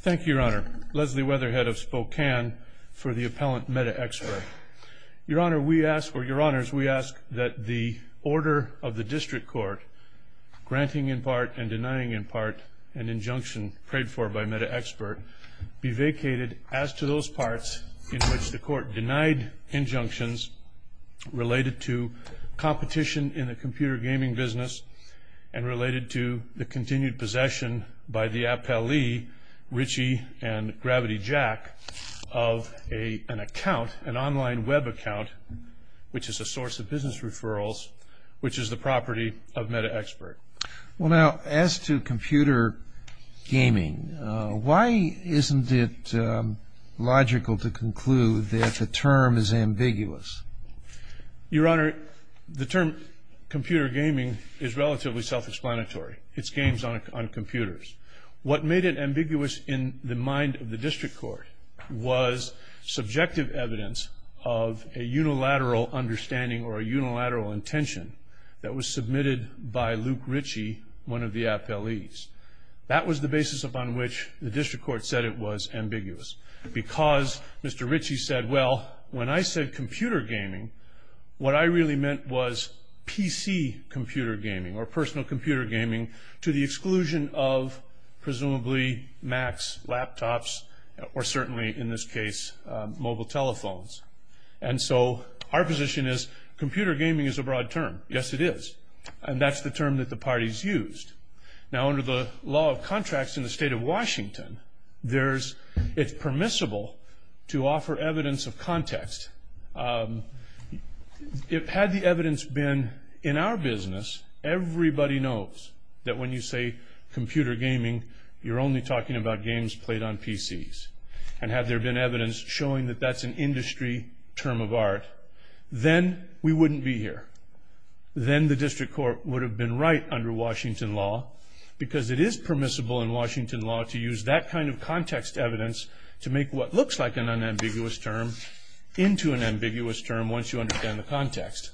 Thank you, Your Honor. Leslie Weatherhead of Spokane for the appellant Metaxpert. Your Honor, we ask, or Your Honors, we ask that the order of the district court, granting in part and denying in part an injunction prayed for by Metaxpert, be vacated as to those parts in which the court denied injunctions related to competition in the computer gaming business and related to the continued possession by the appellee Richey and Gravity Jack of an account, an online web account, which is a source of business referrals, which is the property of Metaxpert. Well, now, as to computer gaming, why isn't it logical to conclude that the term is ambiguous? Your Honor, the term computer gaming is relatively self-explanatory. It's games on computers. What made it ambiguous in the mind of the district court was subjective evidence of a unilateral understanding or a unilateral intention that was submitted by Luke Richey, one of the appellees. That was the basis upon which the district court said it was ambiguous because Mr. Richey said, well, when I said computer gaming, what I really meant was PC computer gaming or personal computer gaming to the exclusion of presumably Macs, laptops, or certainly, in this case, mobile telephones. And so our position is computer gaming is a broad term. Yes, it is. And that's the term that the parties used. Now, under the law of contracts in the state of Washington, it's permissible to offer evidence of context. Had the evidence been in our business, everybody knows that when you say computer gaming, you're only talking about games played on PCs. And had there been evidence showing that that's an industry term of art, then we wouldn't be here. Then the district court would have been right under Washington law because it is permissible in Washington law to use that kind of context evidence to make what looks like an unambiguous term into an ambiguous term once you understand the context.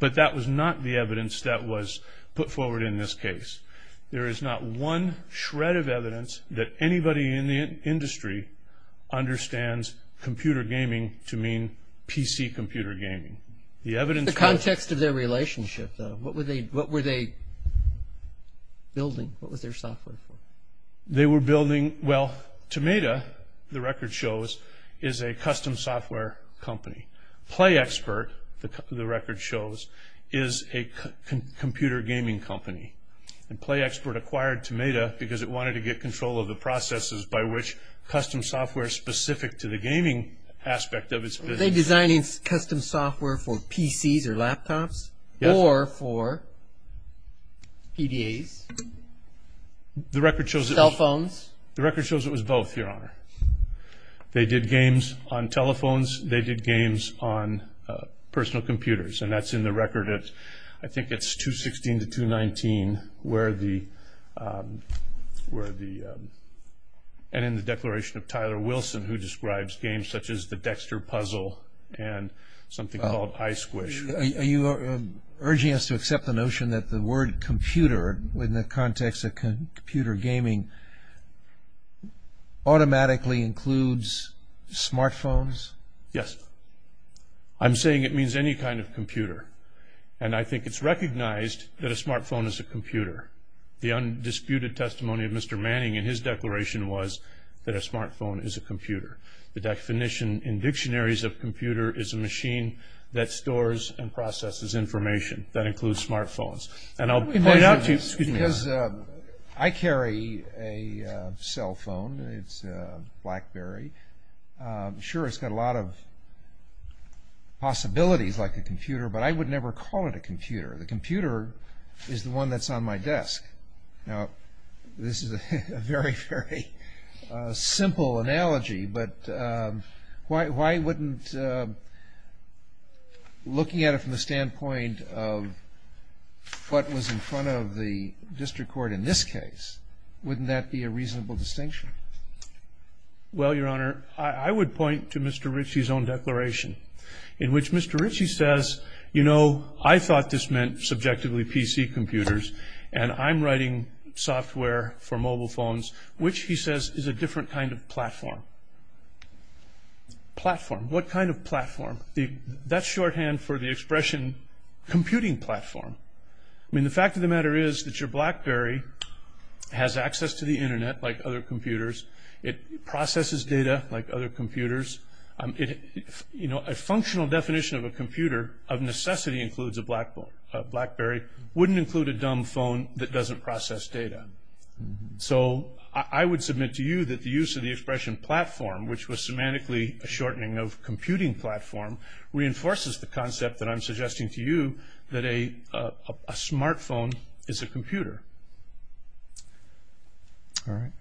But that was not the evidence that was put forward in this case. There is not one shred of evidence that anybody in the industry understands computer gaming to mean PC computer gaming. The context of their relationship, though. What were they building? What was their software for? They were building, well, Tomata, the record shows, is a custom software company. PlayXpert, the record shows, is a computer gaming company. And PlayXpert acquired Tomata because it wanted to get control of the processes by which custom software specific to the gaming aspect of its business. Were they designing custom software for PCs or laptops? Or for PDAs? Cell phones? The record shows it was both, Your Honor. They did games on telephones. They did games on personal computers. And that's in the record at, I think it's 216 to 219, where the, and in the declaration of Tyler Wilson, who describes games such as the Dexter Puzzle and something called Ice Squish. Are you urging us to accept the notion that the word computer, in the context of computer gaming, automatically includes smartphones? Yes. I'm saying it means any kind of computer. And I think it's recognized that a smartphone is a computer. The undisputed testimony of Mr. Manning in his declaration was that a smartphone is a computer. The definition in dictionaries of computer is a machine that stores and processes information. That includes smartphones. And I'll point out to you, excuse me. I carry a cell phone. It's a BlackBerry. Sure, it's got a lot of possibilities like a computer. But I would never call it a computer. The computer is the one that's on my desk. Now, this is a very, very simple analogy. But why wouldn't looking at it from the standpoint of what was in front of the district court in this case, wouldn't that be a reasonable distinction? Well, Your Honor, I would point to Mr. Ritchie's own declaration, in which Mr. Ritchie says, you know, I thought this meant subjectively PC computers, and I'm writing software for mobile phones, which he says is a different kind of platform. Platform. What kind of platform? That's shorthand for the expression computing platform. I mean, the fact of the matter is that your BlackBerry has access to the Internet like other computers. It processes data like other computers. You know, a functional definition of a computer, of necessity includes a BlackBerry, wouldn't include a dumb phone that doesn't process data. So I would submit to you that the use of the expression platform, which was semantically a shortening of computing platform, reinforces the concept that I'm suggesting to you that a smartphone is a computer. All right.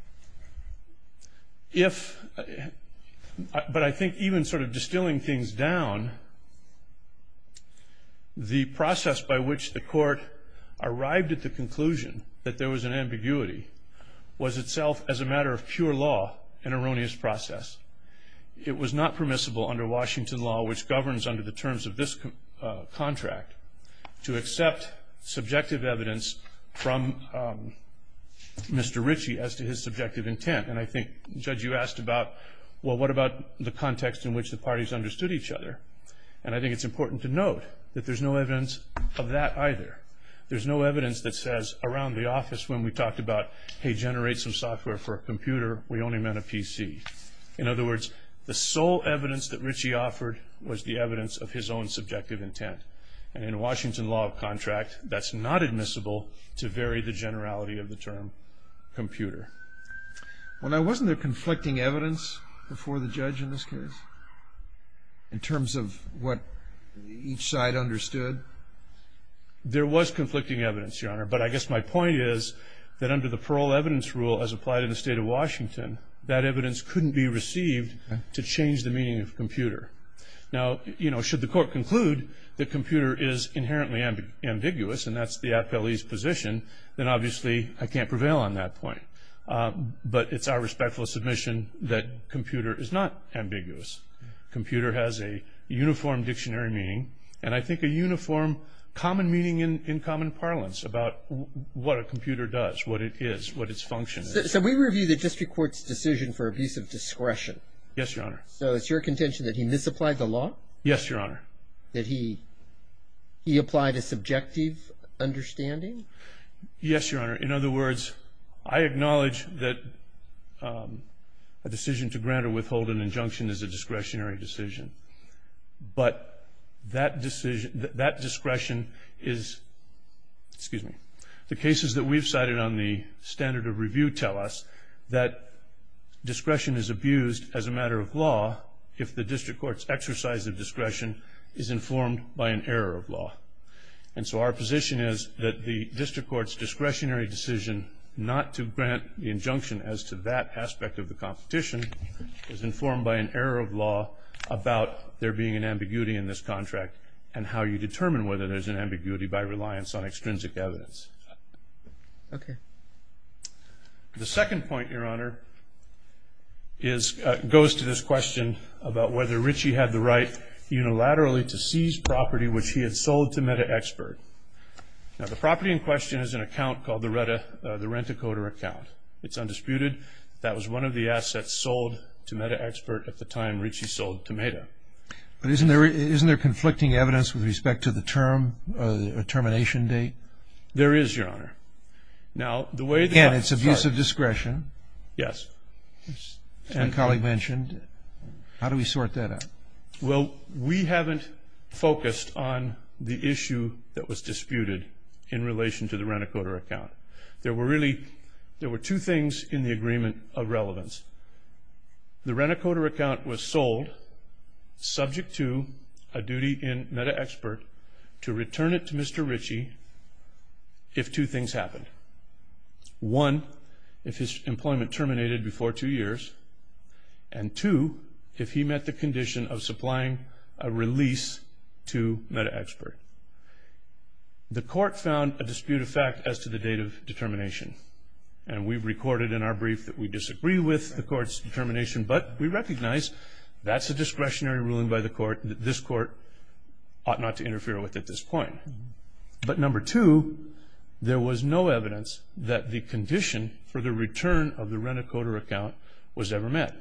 But I think even sort of distilling things down, the process by which the court arrived at the conclusion that there was an ambiguity was itself as a matter of pure law an erroneous process. It was not permissible under Washington law, which governs under the terms of this contract, to accept subjective evidence from Mr. Ritchie as to his subjective intent. And I think, Judge, you asked about, well, what about the context in which the parties understood each other? And I think it's important to note that there's no evidence of that either. There's no evidence that says around the office when we talked about, hey, generate some software for a computer, we only meant a PC. In other words, the sole evidence that Ritchie offered was the evidence of his own subjective intent. And in Washington law of contract, that's not admissible to vary the generality of the term computer. Well, now, wasn't there conflicting evidence before the judge in this case, in terms of what each side understood? There was conflicting evidence, Your Honor. But I guess my point is that under the parole evidence rule, as applied in the state of Washington, that evidence couldn't be received to change the meaning of computer. Now, you know, should the court conclude that computer is inherently ambiguous, and that's the appellee's position, then obviously I can't prevail on that point. But it's our respectful submission that computer is not ambiguous. Computer has a uniform dictionary meaning, and I think a uniform common meaning in common parlance about what a computer does, what it is, what its function is. So we review the district court's decision for abuse of discretion. Yes, Your Honor. So it's your contention that he misapplied the law? Yes, Your Honor. That he applied a subjective understanding? Yes, Your Honor. In other words, I acknowledge that a decision to grant or withhold an injunction is a discretionary decision. But that discretion is, excuse me, the cases that we've cited on the standard of review tell us that discretion is abused as a matter of law if the district court's exercise of discretion is informed by an error of law. And so our position is that the district court's discretionary decision not to grant the injunction as to that aspect of the competition is informed by an error of law about there being an ambiguity in this contract and how you determine whether there's an ambiguity by reliance on extrinsic evidence. Okay. The second point, Your Honor, goes to this question about whether Ritchie had the right unilaterally to seize property which he had sold to Meda Expert. Now, the property in question is an account called the Rent-A-Coder account. It's undisputed that that was one of the assets sold to Meda Expert at the time Ritchie sold to Meda. But isn't there conflicting evidence with respect to the term, the termination date? There is, Your Honor. Now, the way that... Again, it's abuse of discretion. Yes. As my colleague mentioned. How do we sort that out? Well, we haven't focused on the issue that was disputed in relation to the Rent-A-Coder account. There were really, there were two things in the agreement of relevance. The Rent-A-Coder account was sold subject to a duty in Meda Expert to return it to Mr. Ritchie if two things happened. One, if his employment terminated before two years, and two, if he met the condition of supplying a release to Meda Expert. The court found a dispute of fact as to the date of determination, and we've recorded in our brief that we disagree with the court's determination, but we recognize that's a discretionary ruling by the court, that this court ought not to interfere with at this point. But number two, there was no evidence that the condition for the return of the Rent-A-Coder account was ever met.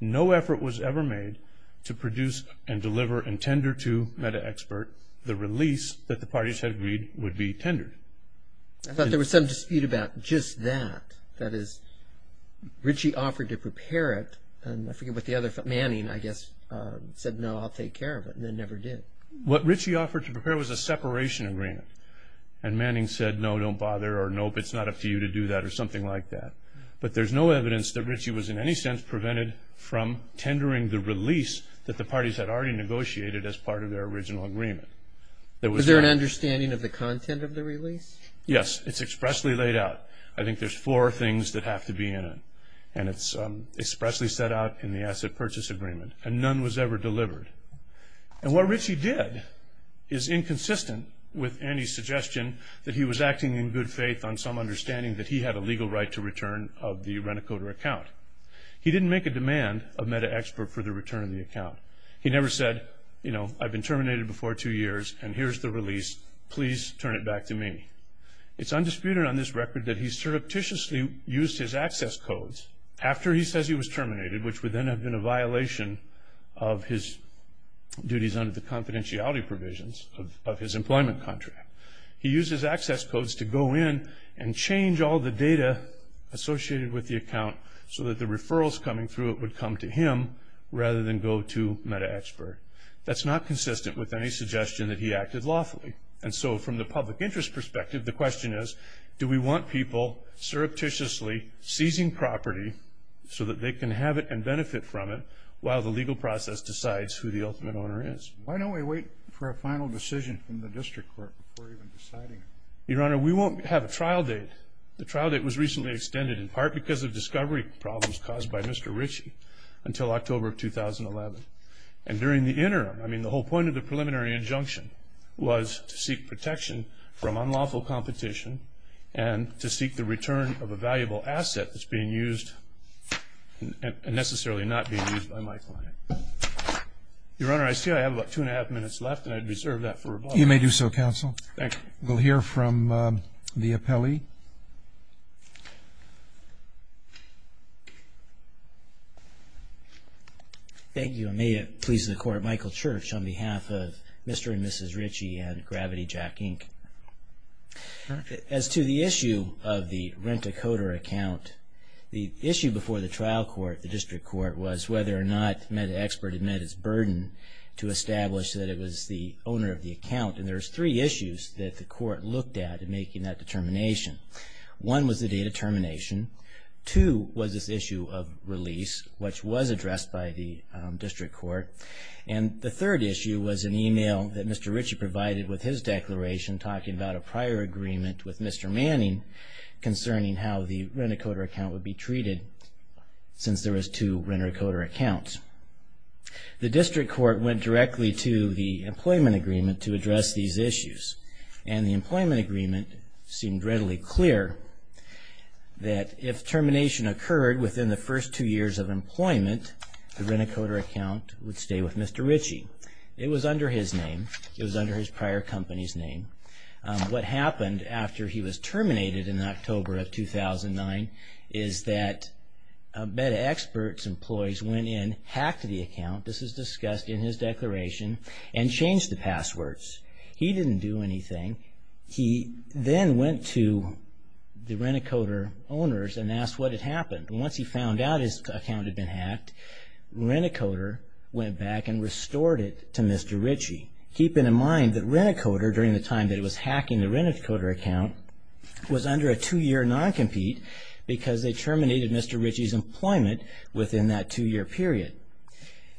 No effort was ever made to produce and deliver and tender to Meda Expert the release that the parties had agreed would be tendered. I thought there was some dispute about just that, that is, Ritchie offered to prepare it, and I forget what the other, Manning, I guess, said, no, I'll take care of it, and then never did. What Ritchie offered to prepare was a separation agreement, and Manning said, no, don't bother, or nope, it's not up to you to do that, or something like that. But there's no evidence that Ritchie was in any sense prevented from tendering the release that the parties had already negotiated as part of their original agreement. Was there an understanding of the content of the release? Yes, it's expressly laid out. I think there's four things that have to be in it, and it's expressly set out in the Asset Purchase Agreement, and none was ever delivered. And what Ritchie did is inconsistent with any suggestion that he was acting in good faith on some understanding that he had a legal right to return of the Rent-A-Coder account. He didn't make a demand of Meda Expert for the return of the account. He never said, you know, I've been terminated before two years, and here's the release, please turn it back to me. It's undisputed on this record that he surreptitiously used his access codes after he says he was terminated, which would then have been a violation of his duties under the confidentiality provisions of his employment contract. He used his access codes to go in and change all the data associated with the account so that the referrals coming through it would come to him rather than go to Meda Expert. That's not consistent with any suggestion that he acted lawfully. And so from the public interest perspective, the question is, do we want people surreptitiously seizing property so that they can have it and benefit from it while the legal process decides who the ultimate owner is? Why don't we wait for a final decision from the district court before even deciding? Your Honor, we won't have a trial date. The trial date was recently extended in part because of discovery problems caused by Mr. Ritchie until October of 2011. And during the interim, I mean, the whole point of the preliminary injunction was to seek protection from unlawful competition and to seek the return of a valuable asset that's being used and necessarily not being used by my client. Your Honor, I see I have about two and a half minutes left, and I'd reserve that for rebuttal. You may do so, counsel. Thank you. We'll hear from the appellee. Thank you. And may it please the Court, Michael Church, on behalf of Mr. and Mrs. Ritchie and Gravity Jack, Inc. As to the issue of the rent-a-coder account, the issue before the trial court, the district court, was whether or not MedExpert had met its burden to establish that it was the owner of the account. And there's three issues that the court looked at in making that determination. One was the date of termination. Two was this issue of release, which was addressed by the district court. And the third issue was an email that Mr. Ritchie provided with his declaration talking about a prior agreement with Mr. Manning concerning how the rent-a-coder account would be treated since there was two rent-a-coder accounts. The district court went directly to the employment agreement to address these issues, and the employment agreement seemed readily clear that if termination occurred within the first two years of employment, the rent-a-coder account would stay with Mr. Ritchie. It was under his name. It was under his prior company's name. What happened after he was terminated in October of 2009 is that MedExpert's employees went in, hacked the account, this is discussed in his declaration, and changed the passwords. He didn't do anything. He then went to the rent-a-coder owners and asked what had happened. Once he found out his account had been hacked, rent-a-coder went back and restored it to Mr. Ritchie, keeping in mind that rent-a-coder, during the time that it was hacking the rent-a-coder account, was under a two-year non-compete because they terminated Mr. Ritchie's employment within that two-year period.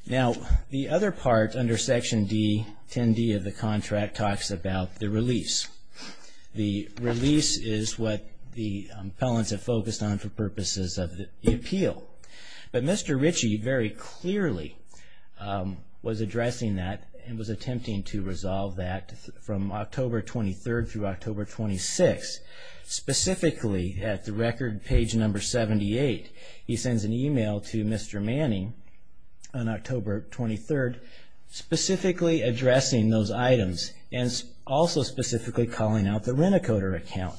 Now, the other part under Section D, 10D of the contract, talks about the release. The release is what the appellants have focused on for purposes of the appeal. But Mr. Ritchie very clearly was addressing that and was attempting to resolve that from October 23rd through October 26th. Specifically, at the record page number 78, he sends an email to Mr. Manning on October 23rd, specifically addressing those items and also specifically calling out the rent-a-coder account.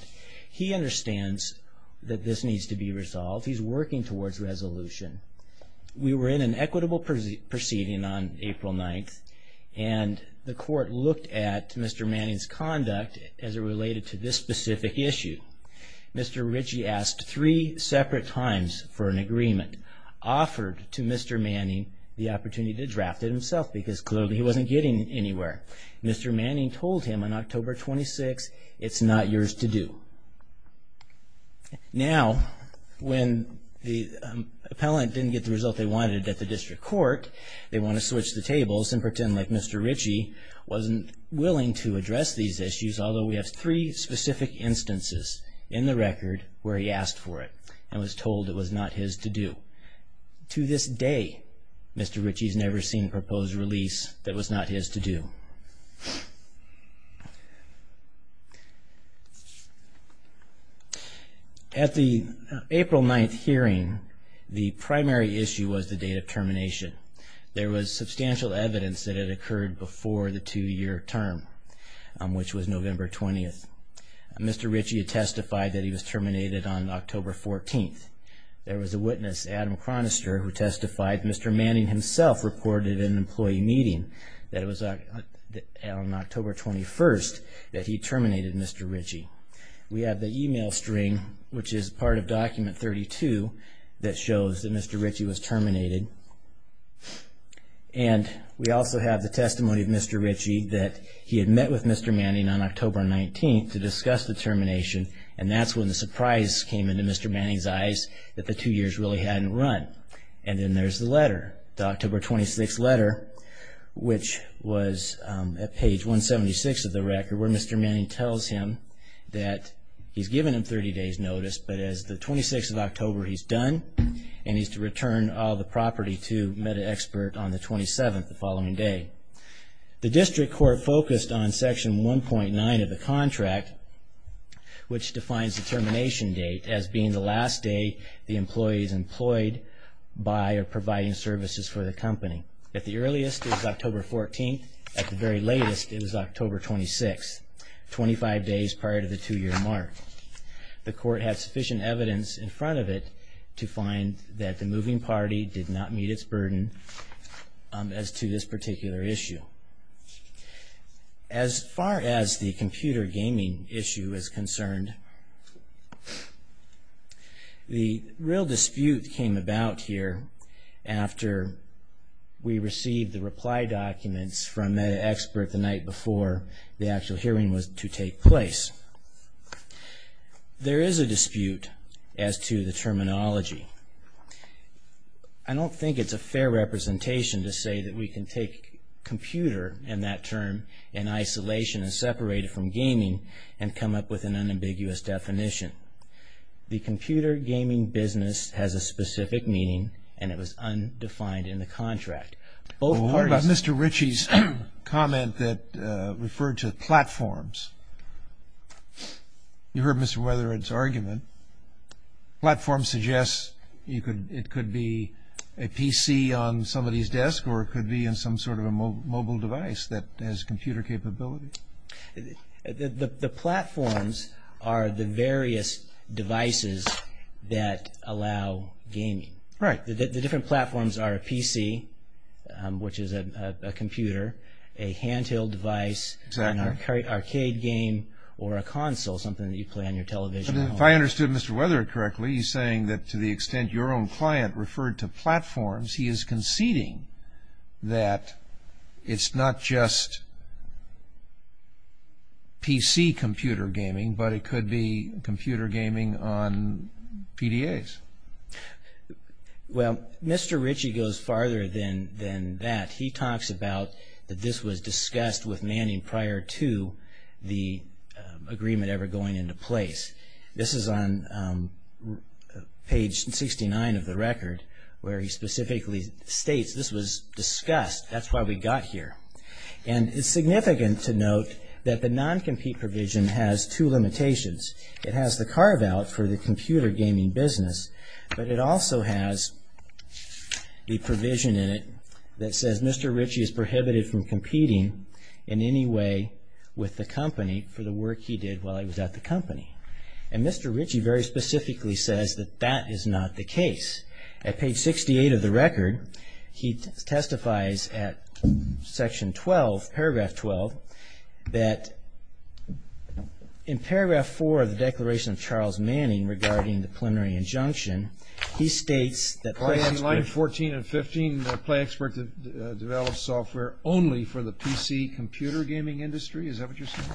He understands that this needs to be resolved. He's working towards resolution. We were in an equitable proceeding on April 9th, and the court looked at Mr. Manning's conduct as it related to this specific issue. Mr. Ritchie asked three separate times for an agreement, offered to Mr. Manning the opportunity to draft it himself because clearly he wasn't getting anywhere. Mr. Manning told him on October 26, it's not yours to do. Now, when the appellant didn't get the result they wanted at the district court, they want to switch the tables and pretend like Mr. Ritchie wasn't willing to address these issues, although we have three specific instances in the record where he asked for it and was told it was not his to do. To this day, Mr. Ritchie's never seen proposed release that was not his to do. At the April 9th hearing, the primary issue was the date of termination. There was substantial evidence that it occurred before the two-year term, which was November 20th. Mr. Ritchie testified that he was terminated on October 14th. There was a witness, Adam Chronister, who testified Mr. Manning himself reported in an employee meeting that it was on October 21st that he terminated Mr. Ritchie. We have the email string, which is part of Document 32, that shows that Mr. Ritchie was terminated. And we also have the testimony of Mr. Ritchie that he had met with Mr. Manning on October 19th to discuss the termination, and that's when the surprise came into Mr. Manning's eyes that the two years really hadn't run. And then there's the letter, the October 26th letter, which was at page 176 of the record, where Mr. Manning tells him that he's given him 30 days' notice, but as the 26th of October, he's done, and he's to return all the property to MedExpert on the 27th, the following day. The district court focused on Section 1.9 of the contract, which defines the termination date as being the last day the employee is employed by or providing services for the company. At the earliest, it was October 14th. At the very latest, it was October 26th, 25 days prior to the two-year mark. The court had sufficient evidence in front of it to find that the moving party did not meet its burden as to this particular issue. As far as the computer gaming issue is concerned, the real dispute came about here after we received the reply documents from MedExpert the night before the actual hearing was to take place. There is a dispute as to the terminology. I don't think it's a fair representation to say that we can take computer, and that term in isolation is separated from gaming, and come up with an unambiguous definition. The computer gaming business has a specific meaning, and it was undefined in the contract. What about Mr. Ritchie's comment that referred to platforms? You heard Mr. Weatherid's argument. Platform suggests it could be a PC on somebody's desk or it could be in some sort of a mobile device that has computer capability. The platforms are the various devices that allow gaming. Right. The different platforms are a PC, which is a computer, a handheld device, an arcade game, or a console, something that you play on your television. If I understood Mr. Weatherid correctly, he's saying that to the extent your own client referred to platforms, he is conceding that it's not just PC computer gaming, but it could be computer gaming on PDAs. Well, Mr. Ritchie goes farther than that. He talks about that this was discussed with Manning prior to the agreement ever going into place. This is on page 69 of the record, where he specifically states this was discussed. That's why we got here. And it's significant to note that the non-compete provision has two limitations. It has the carve-out for the computer gaming business, but it also has the provision in it that says Mr. Ritchie is prohibited from competing in any way with the company for the work he did while he was at the company. And Mr. Ritchie very specifically says that that is not the case. At page 68 of the record, he testifies at section 12, paragraph 12, that in paragraph 4 of the Declaration of Charles Manning regarding the preliminary injunction, he states that play experts... In line 14 and 15, the play expert develops software only for the PC computer gaming industry. Is that what you're saying?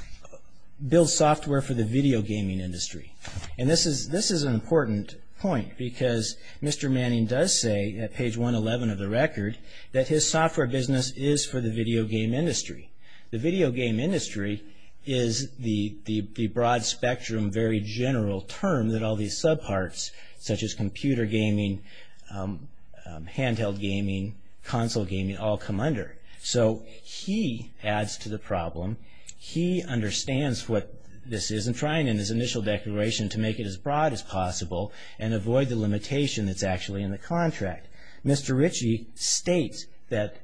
Builds software for the video gaming industry. And this is an important point because Mr. Manning does say at page 111 of the record that his software business is for the video game industry. The video game industry is the broad-spectrum, very general term that all these sub-parts, such as computer gaming, handheld gaming, console gaming, all come under. So he adds to the problem. He understands what this is and trying in his initial declaration to make it as broad as possible and avoid the limitation that's actually in the contract. Mr. Ritchie states that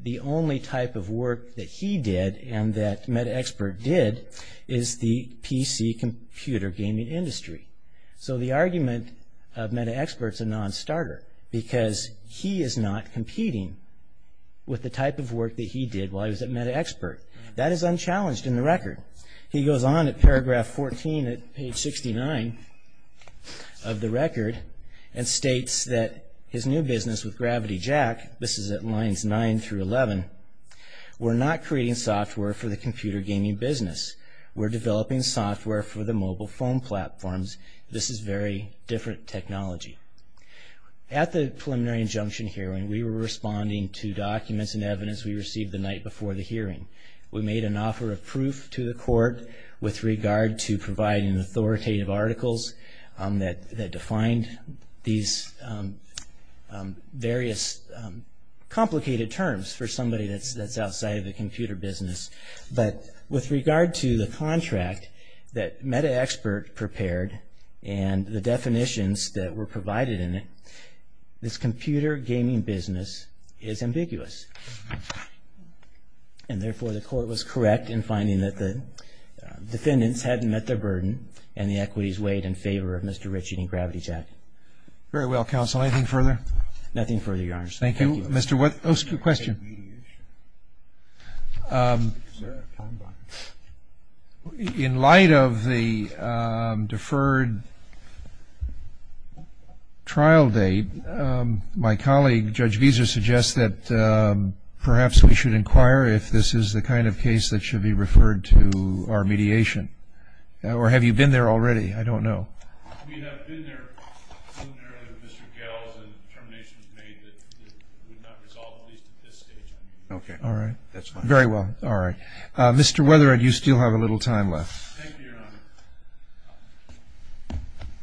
the only type of work that he did and that MetaXpert did is the PC computer gaming industry. So the argument of MetaXpert's a non-starter because he is not competing with the type of work that he did while he was at MetaXpert. He goes on at paragraph 14 at page 69 of the record and states that his new business with Gravity Jack, this is at lines 9 through 11, we're not creating software for the computer gaming business. We're developing software for the mobile phone platforms. This is very different technology. At the preliminary injunction hearing, we were responding to documents and evidence we received the night before the hearing. We made an offer of proof to the court with regard to providing authoritative articles that defined these various complicated terms for somebody that's outside of the computer business. But with regard to the contract that MetaXpert prepared and the definitions that were provided in it, this computer gaming business is ambiguous. And therefore, the court was correct in finding that the defendants hadn't met their burden and the equities weighed in favor of Mr. Ritchie and Gravity Jack. Very well, counsel. Anything further? Nothing further, Your Honor. Thank you. Mr. White. Oh, question. In light of the deferred trial date, my colleague, Judge Visa, suggests that perhaps we should inquire if this is the kind of case that should be referred to our mediation. Or have you been there already? I don't know. Okay, all right. Very well. All right. Mr. Weatherhead, you still have a little time left. Thank you, Your Honor.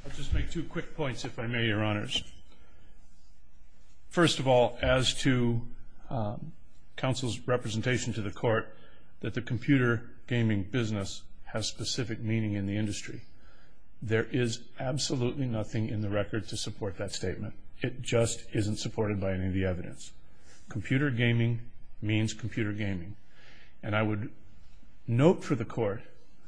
I'll just make two quick points, if I may, Your Honors. First of all, as to counsel's representation to the court, that the computer gaming business has specific meaning in the industry. There is absolutely nothing in the record to support that statement. It just isn't supported by any of the evidence. Computer gaming means computer gaming. And I would note for the court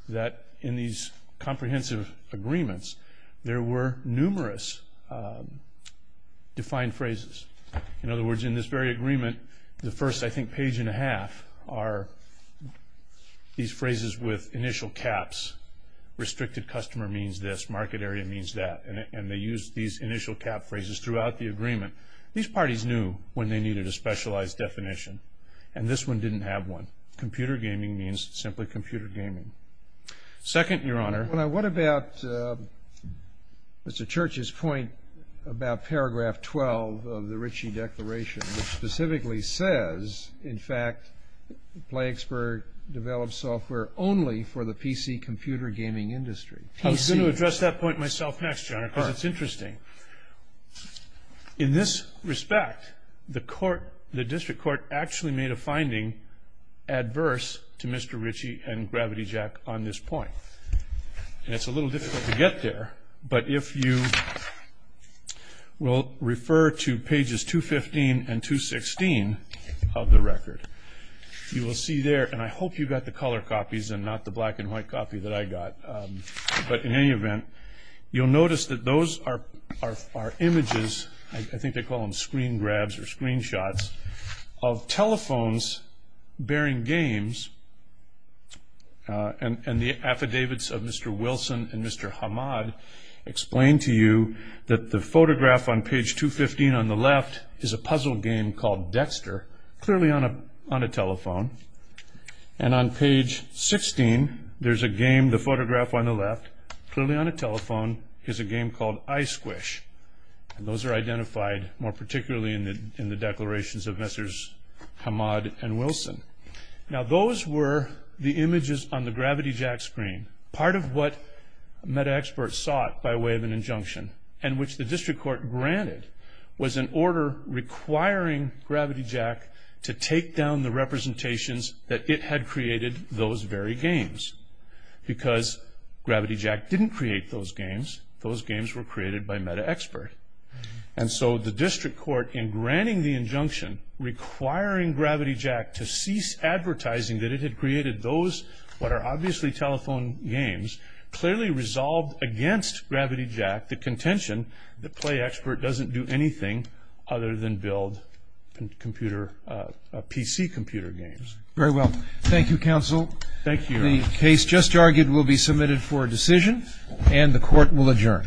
that in these comprehensive agreements, there were numerous defined phrases. In other words, in this very agreement, the first, I think, page and a half, are these phrases with initial caps. Restricted customer means this. Market area means that. And they used these initial cap phrases throughout the agreement. These parties knew when they needed a specialized definition. And this one didn't have one. Computer gaming means simply computer gaming. Second, Your Honor. What about Mr. Church's point about paragraph 12 of the Ritchie Declaration, which specifically says, in fact, PlayXpert develops software only for the PC computer gaming industry. I was going to address that point myself next, Your Honor, because it's interesting. In this respect, the district court actually made a finding adverse to Mr. Ritchie and Gravity Jack on this point. And it's a little difficult to get there, but if you will refer to pages 215 and 216 of the record, you will see there, and I hope you got the color copies and not the black and white copy that I got, but in any event, you'll notice that those are images, I think they call them screen grabs or screenshots, of telephones bearing games, and the affidavits of Mr. Wilson and Mr. Hamad explain to you that the photograph on page 215 on the left is a puzzle game called Dexter, clearly on a telephone. And on page 16, there's a game, the photograph on the left, clearly on a telephone, is a game called Ice Squish. And those are identified more particularly in the declarations of Mr. Hamad and Wilson. Now, those were the images on the Gravity Jack screen, part of what MetaXpert sought by way of an injunction, and which the district court granted was an order requiring Gravity Jack to take down the representations that it had created those very games. Because Gravity Jack didn't create those games, those games were created by MetaXpert. And so the district court, in granting the injunction, requiring Gravity Jack to cease advertising that it had created those, what are obviously telephone games, clearly resolved against Gravity Jack the contention that PlayXpert doesn't do anything other than build PC computer games. Very well. Thank you, counsel. Thank you. The case just argued will be submitted for a decision, and the court will adjourn.